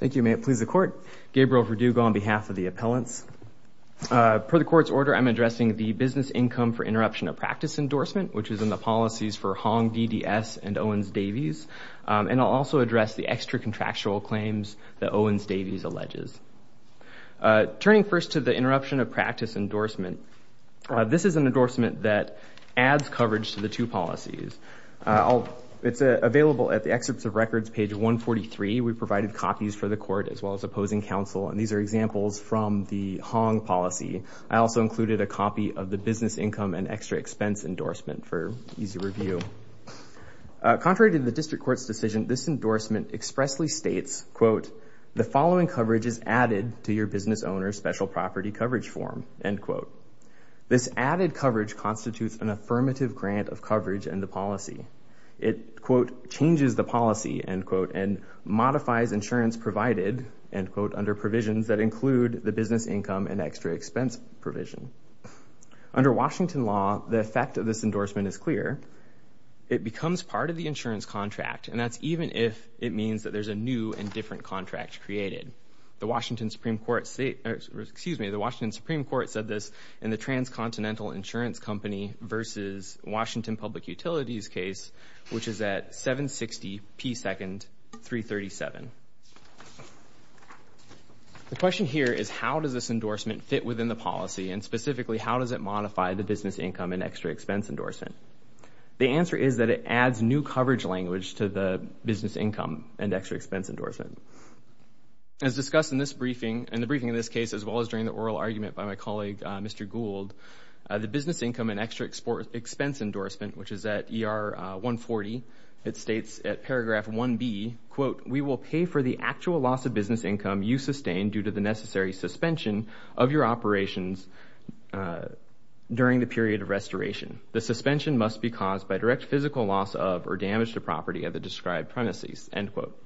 Thank you. May it please the court. Gabriel Verdugo on behalf of the appellants. Per the court's order I'm addressing the business income for interruption of practice endorsement which is in the policies for Hong, DDS and Owens-Davies and I'll also address the extra contractual claims that Owens- Davies alleges. Turning first to the interruption of practice endorsement this is an endorsement that adds coverage to the two policies. It's available at the excerpts of records page 143. We provided copies for the court as well as opposing counsel and these are examples from the Hong policy. I also included a copy of the business income and extra expense endorsement for easy review. Contrary to the district court's decision this endorsement expressly states, quote, the following coverage is added to your business owner's special property coverage form, end quote. This added coverage constitutes an affirmative grant of coverage and the policy. It, quote, changes the policy, end quote, and modifies insurance provided, end quote, under provisions that include the business income and extra expense provision. Under Washington law the effect of this endorsement is clear. It becomes part of the insurance contract and that's even if it means that there's a new and different contract created. The Washington Supreme Court said this in the transcontinental insurance company versus Washington Public Utilities case which is at 760p second 337. The question here is how does this endorsement fit within the policy and specifically how does it modify the business income and extra expense endorsement? The answer is that it adds new coverage language to the business income and extra expense endorsement. As discussed in this briefing and the case as well as during the oral argument by my colleague Mr. Gould, the business income and extra export expense endorsement, which is at ER 140, it states at paragraph 1b, quote, we will pay for the actual loss of business income you sustain due to the necessary suspension of your operations during the period of restoration. The suspension must be caused by direct physical loss of or damage to property at the described premises, end quote.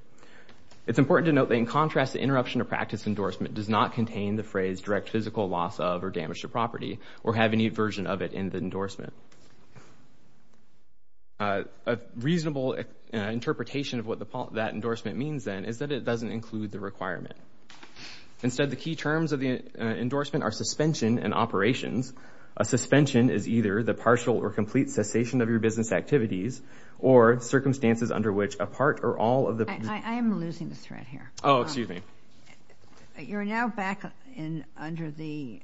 It's important to note that in contrast the interruption of practice endorsement does not contain the phrase direct physical loss of or damage to property or have any version of it in the endorsement. A reasonable interpretation of what that endorsement means then is that it doesn't include the requirement. Instead the key terms of the endorsement are suspension and operations. A suspension is either the partial or complete cessation of your business activities or circumstances under which a part or all of the... I am losing the thread here. Oh under the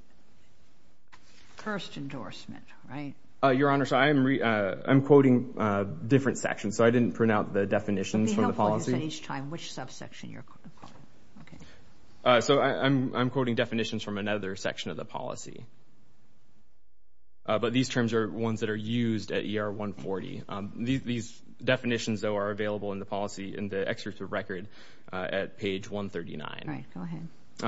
first endorsement, right? Your Honor, so I'm quoting different sections, so I didn't print out the definitions from the policy. It would be helpful to say each time which subsection you're quoting. So I'm quoting definitions from another section of the policy, but these terms are ones that are used at ER 140. These definitions though are available in the policy in the excerpt of record at page 139.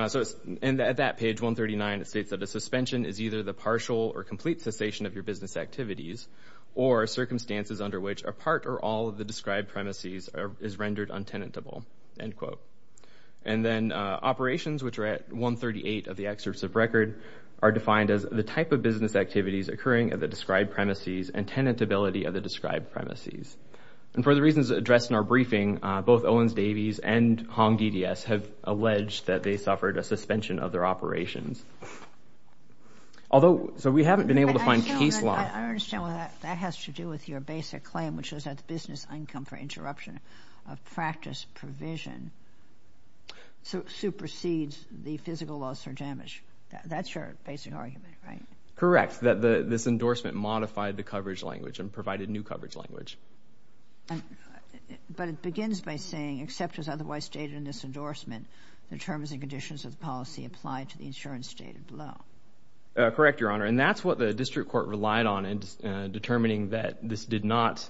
So at that page 139 it states that a suspension is either the partial or complete cessation of your business activities or circumstances under which a part or all of the described premises is rendered untenable, end quote. And then operations which are at 138 of the excerpts of record are defined as the type of business activities occurring at the described premises and tenet ability of the described premises. And for the reasons addressed in our briefing both Owens-Davies and Hong DDS have alleged that they suffered a suspension of their operations. Although, so we haven't been able to find case law... I understand that has to do with your basic claim which was that the business income for interruption of practice provision supersedes the physical loss or damage. That's your basic argument, right? Correct, that this endorsement modified the coverage language and provided new except as otherwise stated in this endorsement the terms and conditions of the policy applied to the insurance stated below. Correct, Your Honor, and that's what the district court relied on in determining that this did not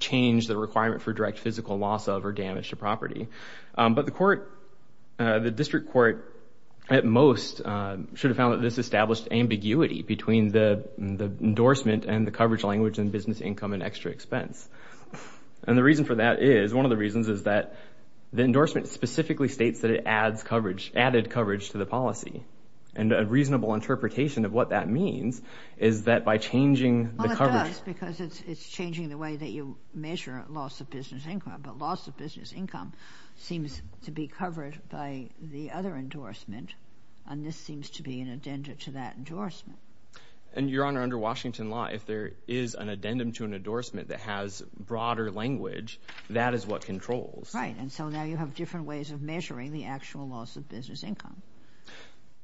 change the requirement for direct physical loss of or damage to property. But the court, the district court at most should have found that this established ambiguity between the endorsement and the coverage language and business income and extra expense. And the reason for that is, one of the reasons is that the endorsement specifically states that it adds coverage, added coverage to the policy. And a reasonable interpretation of what that means is that by changing the coverage... Well it does because it's changing the way that you measure loss of business income, but loss of business income seems to be covered by the other endorsement and this seems to be an addendum to that endorsement. And Your Honor, under broader language, that is what controls. Right, and so now you have different ways of measuring the actual loss of business income.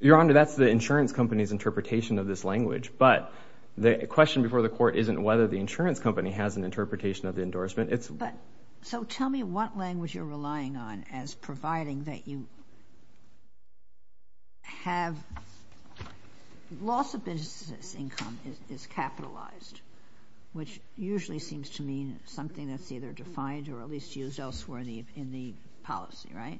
Your Honor, that's the insurance company's interpretation of this language, but the question before the court isn't whether the insurance company has an interpretation of the endorsement, it's... But, so tell me what language you're relying on as providing that you have... Loss of business income is capitalized, which usually seems to mean something that's either defined or at least used elsewhere in the policy, right?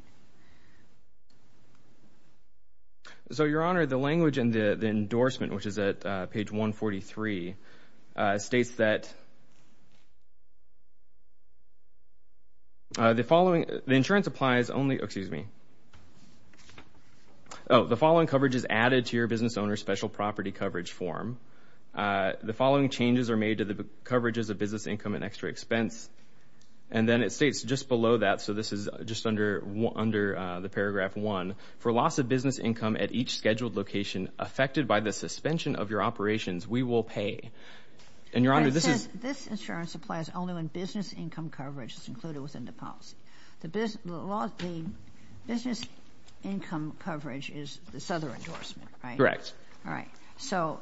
So Your Honor, the language in the endorsement, which is at page 143, states that the following... The insurance applies only... Excuse me. Oh, the following coverage is added to your business owner's special property coverage form. The following changes are made to the coverages of business income and extra expense. And then it states just below that, so this is just under the paragraph 1, for loss of business income at each scheduled location affected by the suspension of your operations, we will pay. And Your Honor, this is... This insurance applies only when business income coverage is included within the policy. The business income coverage is this other endorsement, right? Correct. All right. So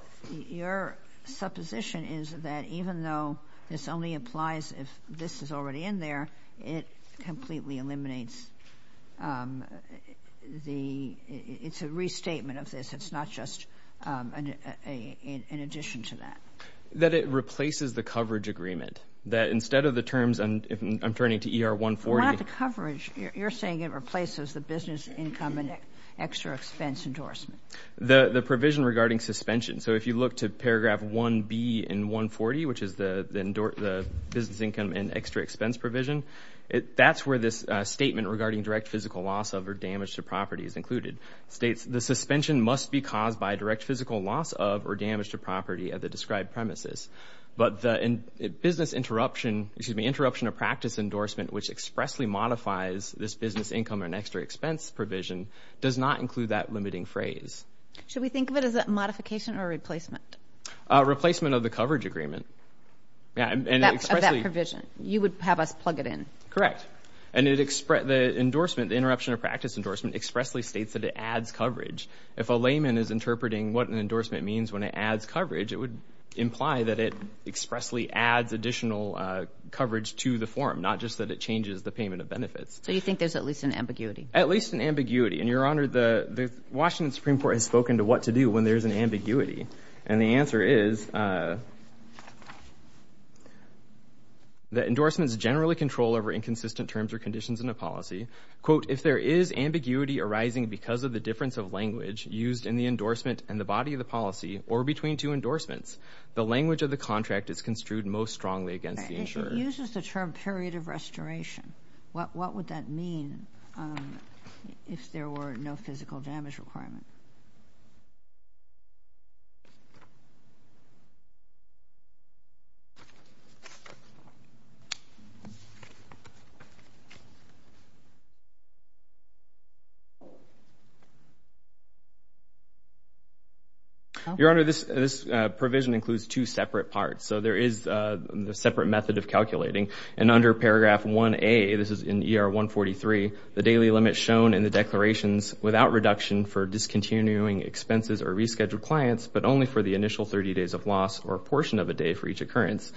your supposition is that even though this only applies if this is already in there, it completely eliminates the... It's a restatement of this. It's not just an addition to that. That it replaces the coverage agreement. That instead of the terms, and I'm turning to ER 140... Not the coverage. You're saying it replaces the business income and extra expense endorsement. The provision regarding suspension. So if you look to paragraph 1B in 140, which is the business income and extra expense provision, that's where this statement regarding direct physical loss of or damage to property is included. It states, the suspension must be caused by direct physical loss of or damage to property at the described premises. But the business interruption, excuse me, interruption of practice endorsement, which expressly modifies this business income and extra expense provision, does not include that limiting phrase. Should we think of it as a modification or replacement? Replacement of the coverage agreement. That provision. You would have us plug it in. Correct. And the endorsement, the interruption of practice endorsement, expressly states that it adds coverage. If a layman is interpreting what an endorsement means when it adds coverage, it would imply that it expressly adds additional coverage to the form, not just that it changes the payment of benefits. So you think there's at least an ambiguity? At least an ambiguity. And your honor, the do when there's an ambiguity? And the answer is, that endorsements generally control over inconsistent terms or conditions in a policy. Quote, if there is ambiguity arising because of the difference of language used in the endorsement and the body of the policy, or between two endorsements, the language of the contract is construed most strongly against the insurer. It uses the term period of restoration. What would that mean if there were no physical damage requirement? Your honor, this provision includes two separate parts. So there is a separate method of calculating. And under paragraph 1A, this is in ER 143, the daily limit shown in the declarations without reduction for discontinuing expenses or rescheduled clients, but only for the initial 30 days of loss or a portion of a day for each occurrence.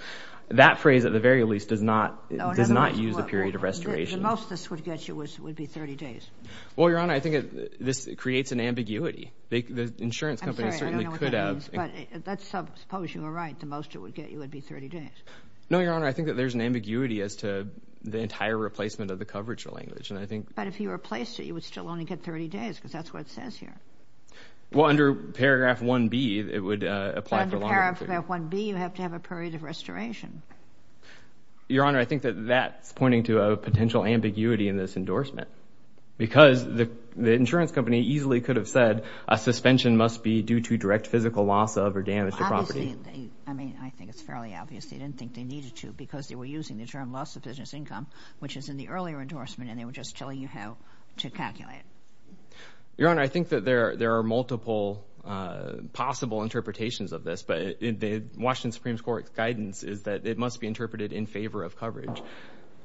That phrase, at the very least, does not, does not use a period of restoration. The most this would get you would be 30 days. Well, your honor, I think this creates an ambiguity. The insurance company certainly could have. I'm sorry, I don't know what that means, but let's suppose you were right. The most it would get you would be 30 days. No, your ambiguity as to the entire replacement of the coverage of language. And I think but if you replace it, you would still only get 30 days because that's what it says here. Well, under paragraph 1B, it would apply for longer. Under paragraph 1B, you have to have a period of restoration. Your honor, I think that that's pointing to a potential ambiguity in this endorsement because the insurance company easily could have said a suspension must be due to direct physical loss of or damage to property. I mean, I think it's fairly obvious they didn't think they needed to because they were using the term loss of business income, which is in the earlier endorsement, and they were just telling you how to calculate. Your honor, I think that there there are multiple possible interpretations of this, but in the Washington Supreme Court's guidance is that it must be interpreted in favor of coverage.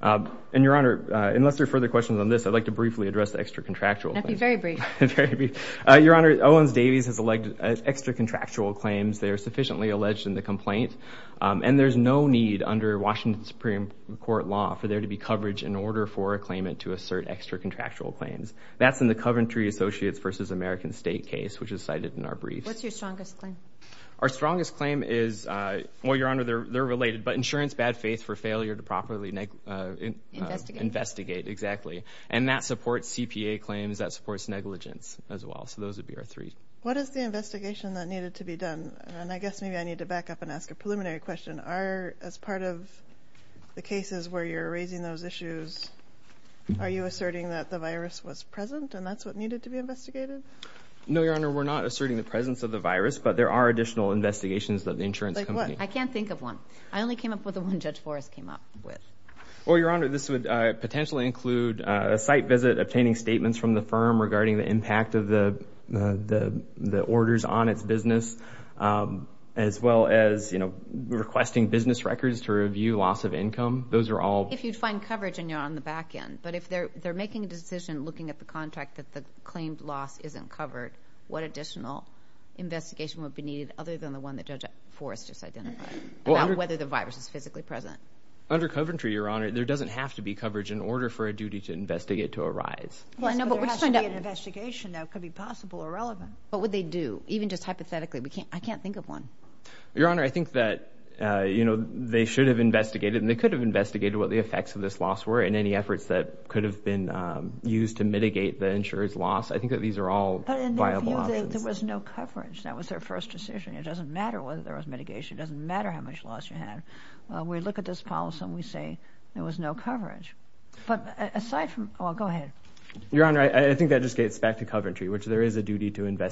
And your honor, unless there are further questions on this, I'd like to briefly address the extra contractual. That'd be very brief. Your honor, Owens-Davies has elected extra contractual claims. They are sufficiently alleged in the Supreme Court law for there to be coverage in order for a claimant to assert extra contractual claims. That's in the Coventry Associates versus American State case, which is cited in our briefs. What's your strongest claim? Our strongest claim is, well, your honor, they're related, but insurance bad-faith for failure to properly investigate. Exactly. And that supports CPA claims, that supports negligence as well. So those would be our three. What is the investigation that needed to be done? And I guess maybe I need to back up and ask a preliminary question. Are, as part of the cases where you're raising those issues, are you asserting that the virus was present and that's what needed to be investigated? No, your honor, we're not asserting the presence of the virus, but there are additional investigations that the insurance company... Like what? I can't think of one. I only came up with the one Judge Forrest came up with. Well, your honor, this would potentially include a site visit, obtaining statements from the firm regarding the impact of the the the orders on its business, as well as, you know, requesting business records to review loss of income. Those are all... If you'd find coverage and you're on the back end, but if they're they're making a decision looking at the contract that the claimed loss isn't covered, what additional investigation would be needed other than the one that Judge Forrest just identified, about whether the virus is physically present? Under Coventry, your honor, there doesn't have to be coverage in order for a duty to investigate to arise. Well, I know, but there has to be an investigation that could be possible or relevant. What would they do? Even just hypothetically, we can't, I can't think of one. Your honor, I think that, you know, they should have investigated and they could have investigated what the effects of this loss were in any efforts that could have been used to mitigate the insurer's loss. I think that these are all viable options. But in their view, there was no coverage. That was their first decision. It doesn't matter whether there was mitigation. It doesn't matter how much loss you have. We look at this policy and we say there was no coverage. But aside from... Well, go ahead. Your honor, I think that just gets back to Coventry, which there is a duty to Well, there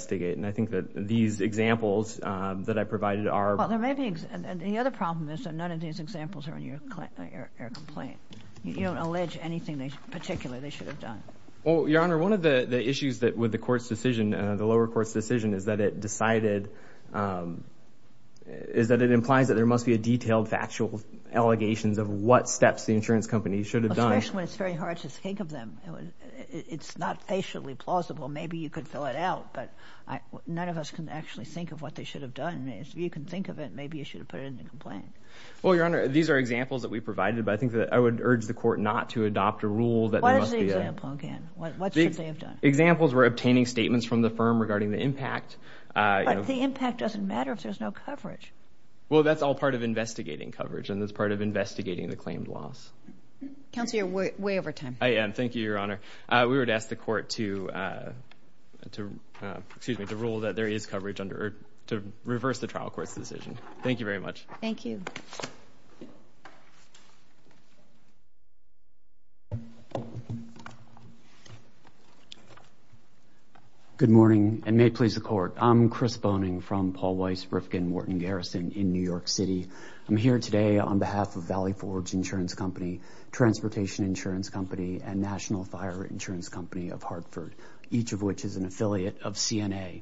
may be, and the other problem is that none of these examples are in your complaint. You don't allege anything particular they should have done. Well, your honor, one of the issues that with the court's decision, the lower court's decision, is that it decided, is that it implies that there must be a detailed factual allegations of what steps the insurance company should have done. Especially when it's very hard to think of them. It's not facially plausible. Maybe you could fill it out, but none of us can actually think of what they should have done. If you can think of it, maybe you should have put it in the complaint. Well, your honor, these are examples that we provided, but I think that I would urge the court not to adopt a rule that... What is the example again? What should they have done? Examples were obtaining statements from the firm regarding the impact. But the impact doesn't matter if there's no coverage. Well, that's all part of investigating coverage and that's part of investigating the claimed loss. Counselor, you're way over time. I am. Thank you, your honor. We would ask the court to, excuse me, to rule that there is coverage to reverse the trial court's decision. Thank you very much. Thank you. Good morning and may it please the court. I'm Chris Boning from Paul Weiss Riffkin Wharton Garrison in New York City. I'm here today on behalf of Valley Forge Insurance Company, Transportation Insurance Company, and National Fire Insurance Company of Hartford, each of which is an affiliate of CNA.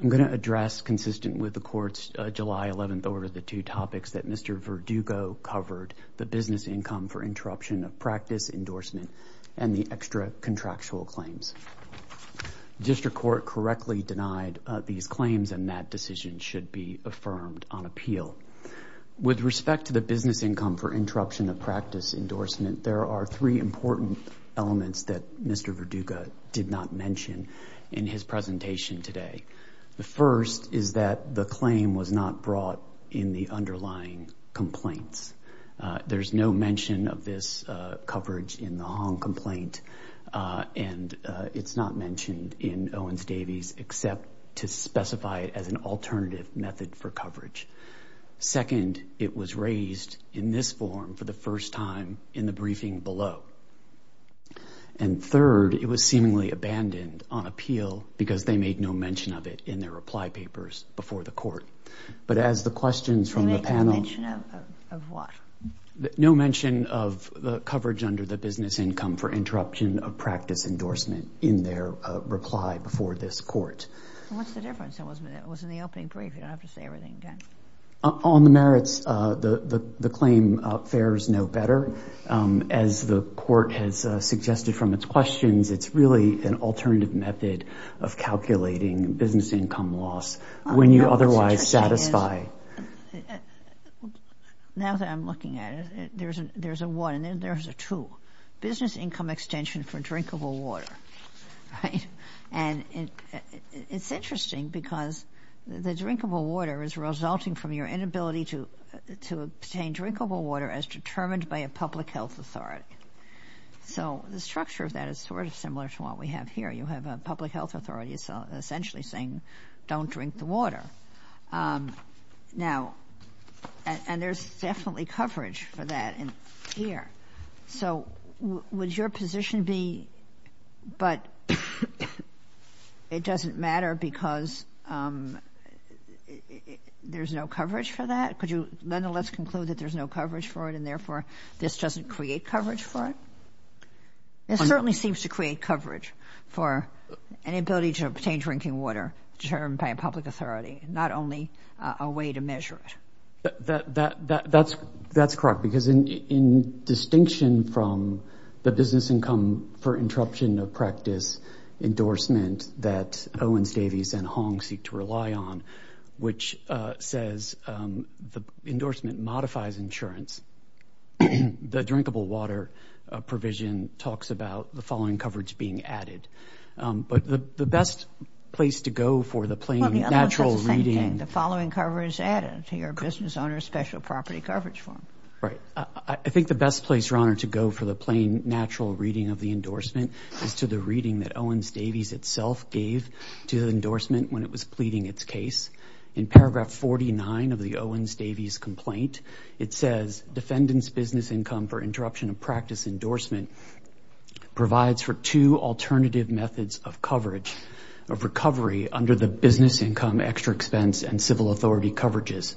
I'm going to address, consistent with the court's July 11th order, the two topics that Mr. Verdugo covered, the business income for interruption of practice endorsement and the extra contractual claims. District Court correctly denied these claims and that decision should be affirmed on appeal. With respect to the business income for interruption of practice endorsement, there are three important elements that Mr. Verdugo did not mention in his presentation today. The first is that the claim was not brought in the underlying complaints. There's no mention of this coverage in the Hong complaint and it's not mentioned in Owens-Davies except to specify it as an alternative method for coverage. Second, it was raised in this form for the first time in the briefing below. And third, it was seemingly abandoned on appeal because they made no mention of it in their reply papers before the court. But as the questions from the panel... They made no mention of what? No mention of the coverage under the business income for interruption of practice endorsement in their reply before this court. What's the claim fares no better? As the court has suggested from its questions, it's really an alternative method of calculating business income loss when you otherwise satisfy. Now that I'm looking at it, there's a one and then there's a two. Business income extension for drinkable water, right? And it's interesting because the drinkable water is resulting from your inability to obtain drinkable water as determined by a public health authority. So the structure of that is sort of similar to what we have here. You have a public health authority essentially saying don't drink the water. Now, and there's definitely coverage for that in here. So would your position be but it doesn't matter because there's no coverage for that? Could you nonetheless conclude that there's no coverage for it and therefore this doesn't create coverage for it? It certainly seems to create coverage for an inability to obtain drinking water determined by a public authority, not only a way to measure it. That's correct because in distinction from the business income for interruption of practice endorsement that Owens, Davies, and Hong seek to rely on, which says the endorsement modifies insurance, the drinkable water provision talks about the following coverage being added. But the best place to go for the plain natural reading... The following coverage added to your business owner's special property coverage form. Right. I think the best place, your honor, to go for the plain natural reading of the endorsement is to the reading that Owens, Davies itself gave to the endorsement when it was pleading its case. In paragraph 49 of the Owens, Davies complaint, it says defendants business income for interruption of practice endorsement provides for two alternative methods of coverage of recovery under the business income extra expense and civil authority coverages.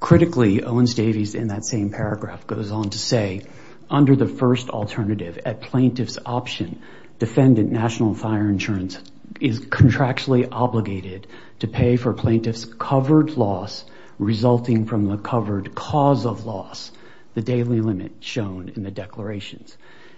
Critically, Owens, Davies in that same paragraph goes on to say under the first alternative at plaintiff's option, defendant national fire insurance is contractually obligated to pay for plaintiff's covered loss resulting from the covered cause of loss, the daily limit shown in the declarations.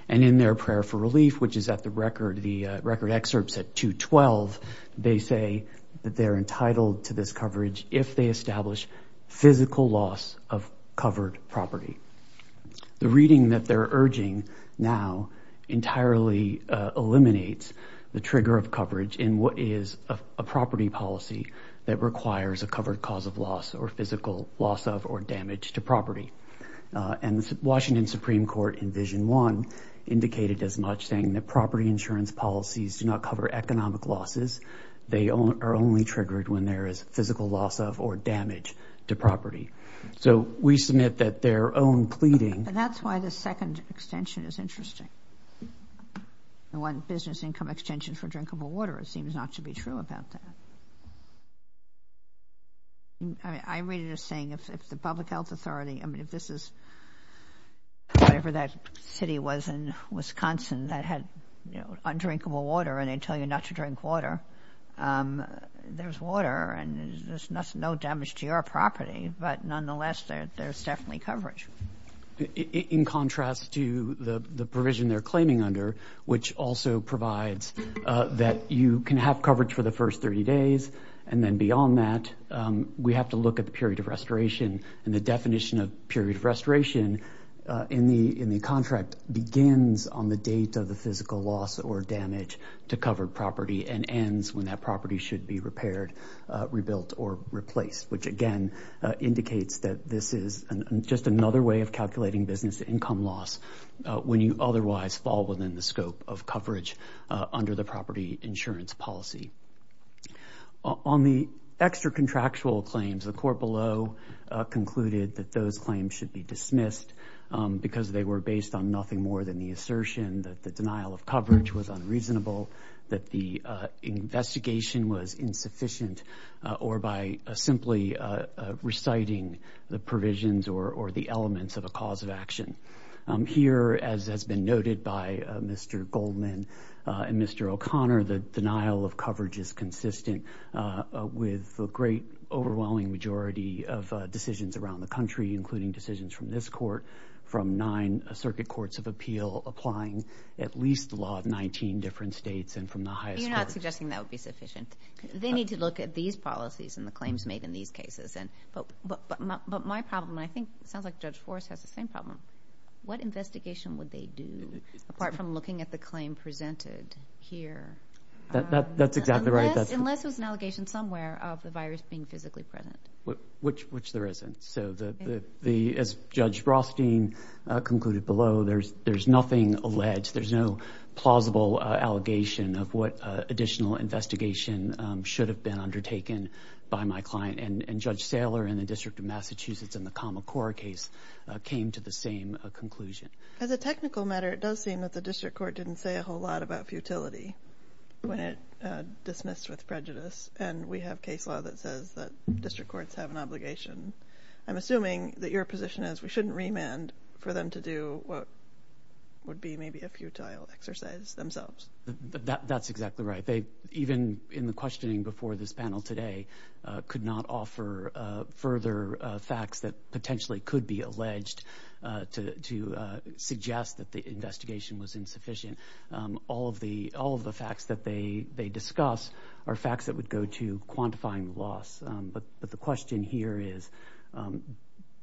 And in their prayer for relief, which is at the record, the record excerpts at 212, they say that they're entitled to this coverage if they establish physical loss of covered property. The reading that they're urging now entirely eliminates the trigger of coverage in what is a property policy that requires a covered cause of loss or physical loss of or damage to property. And the Washington Supreme Court in Vision 1 indicated as much, saying that property insurance policies do not cover economic losses. They are only triggered when there is physical loss of or damage to property. So we submit that their own pleading... And that's why the second extension is interesting. The one business income extension for drinkable water, it seems not to be true about that. I read it as saying if the Public Health Authority, I mean if this is whatever that city was in Wisconsin that had undrinkable water and they tell you not to drink water, there's water and there's no damage to your property, but nonetheless there's definitely coverage. In contrast to the provision they're claiming under, which also provides that you can have coverage for the first 30 days and then beyond that we have to look at the period of restoration and the definition of period of restoration in the in the contract begins on the date of the physical loss or damage to covered property and ends when that property should be repaired, rebuilt, or replaced. Which again indicates that this is just another way of calculating business income loss when you otherwise fall within the scope of coverage under the property insurance policy. On the extra contractual claims, the court below concluded that those claims should be dismissed because they were based on nothing more than the assertion that the denial of coverage was unreasonable, that the investigation was insufficient, or by simply reciting the provisions or the elements of a cause of action. Here, as has been noted by Mr. Goldman and Mr. O'Connor, the denial of coverage is consistent with a great overwhelming majority of decisions around the country, including decisions from this court, from nine circuit courts of appeal, applying at least the law of 19 different states and from the highest court. You're not suggesting that would be sufficient. They need to look at these policies and the claims made in these cases. But my problem, I think it sounds like Judge Forrest has the same problem, what investigation would they do apart from looking at the claim presented here? That's exactly right. Unless it was an allegation somewhere of the virus being physically present. Which there isn't. So as Judge Rothstein concluded below, there's nothing alleged. There's no plausible allegation of what additional investigation should have been undertaken by my client. And Judge Saylor in the District of Massachusetts in the Kamakura case came to the same conclusion. As a technical matter, it does seem that the district court didn't say a whole lot about futility when it comes to a case law that says that district courts have an obligation. I'm assuming that your position is we shouldn't remand for them to do what would be maybe a futile exercise themselves. That's exactly right. They, even in the questioning before this panel today, could not offer further facts that potentially could be alleged to suggest that the investigation was insufficient. All of the facts that they they discuss are facts that would go to quantifying the loss. But the question here is,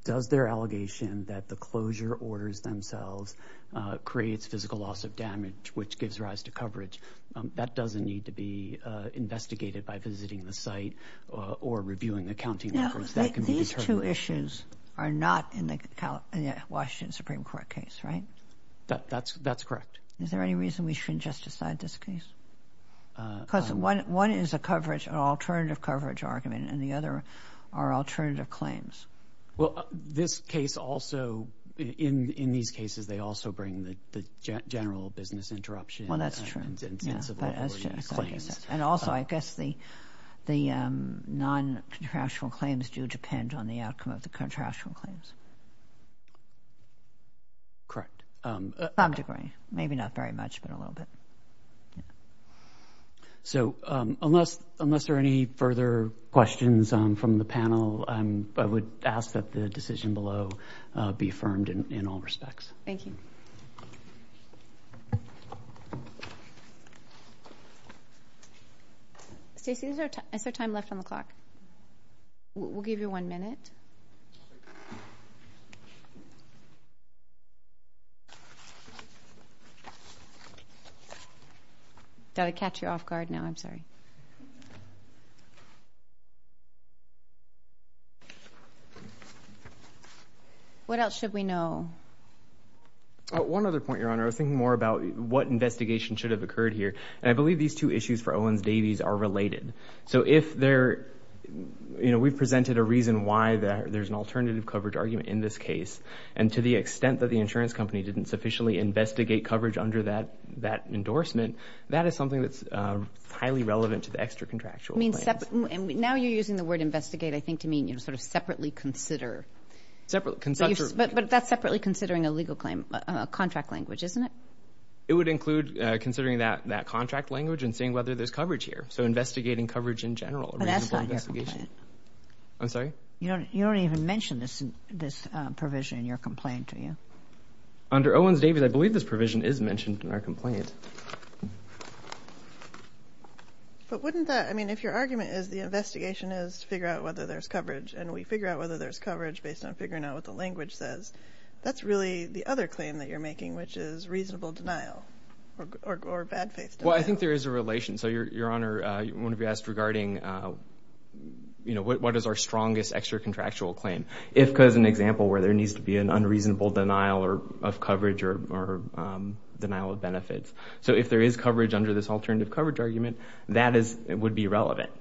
does their allegation that the closure orders themselves creates physical loss of damage, which gives rise to coverage, that doesn't need to be investigated by visiting the site or reviewing the counting records. These two issues are not in the Washington Supreme Court case, right? That's correct. Is there any reason we shouldn't just decide this case? Because one is a coverage, an alternative coverage argument, and the other are alternative claims. Well, this case also, in these cases, they also bring the general business interruption. Well, that's true. And also, I guess the the non-contractual claims do depend on the outcome of the contractual claims. Correct. Some degree. Maybe not very much, but a little bit. So, unless unless there are any further questions from the panel, I would ask that the decision below be affirmed in all respects. Thank you. Stacey, is there time left on the clock? We'll give you one minute. Got to catch you off guard now, I'm sorry. What else should we know? One other point, Your Honor. I was thinking more about what investigation should have occurred here, and I believe these two issues for Owens-Davies are related. So, if there, you know, we've presented a reason why there's an alternative coverage argument in this case, and to the extent that the endorsement, that is something that's highly relevant to the extra contractual claims. Now you're using the word investigate, I think, to mean, you know, sort of separately consider. Separately. But that's separately considering a legal claim, a contract language, isn't it? It would include considering that that contract language and seeing whether there's coverage here. So, investigating coverage in general. But that's not your complaint. I'm sorry? You don't even mention this provision in your complaint, do you? Under Owens-Davies, I mentioned in our complaint. But wouldn't that, I mean, if your argument is the investigation is to figure out whether there's coverage, and we figure out whether there's coverage based on figuring out what the language says, that's really the other claim that you're making, which is reasonable denial or bad faith denial. Well, I think there is a relation. So, Your Honor, one of you asked regarding, you know, what is our strongest extra contractual claim? If, because an example where there needs to be an unreasonable denial of coverage or denial of benefits. So, if there is coverage under this alternative coverage argument, that is, it would be relevant.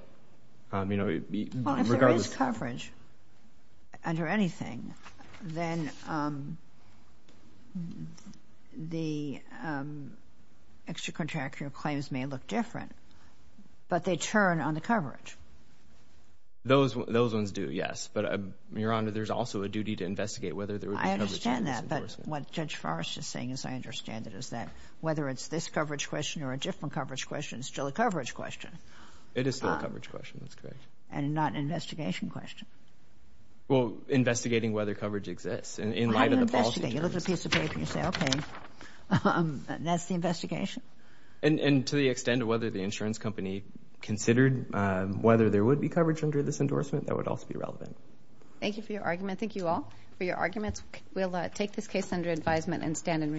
You know, regardless. Well, if there is coverage under anything, then the extra contractual claims may look different. But they turn on the coverage. Those, those ones do, yes. But, Your Honor, there's also a duty to investigate whether there would be coverage. I understand that, but what Judge Forrest is saying, as I understand it, is that whether it's this coverage question or a different coverage question, it's still a coverage question. It is still a coverage question, that's correct. And not an investigation question. Well, investigating whether coverage exists. In light of the policy terms. Well, how do you investigate? You look at a piece of paper and you say, okay. That's the investigation? And, and to the extent of whether the insurance company considered whether there would be coverage under this endorsement, that would also be relevant. Thank you for your argument. Thank you all for your arguments. We'll take this case under advisement and stand in recess.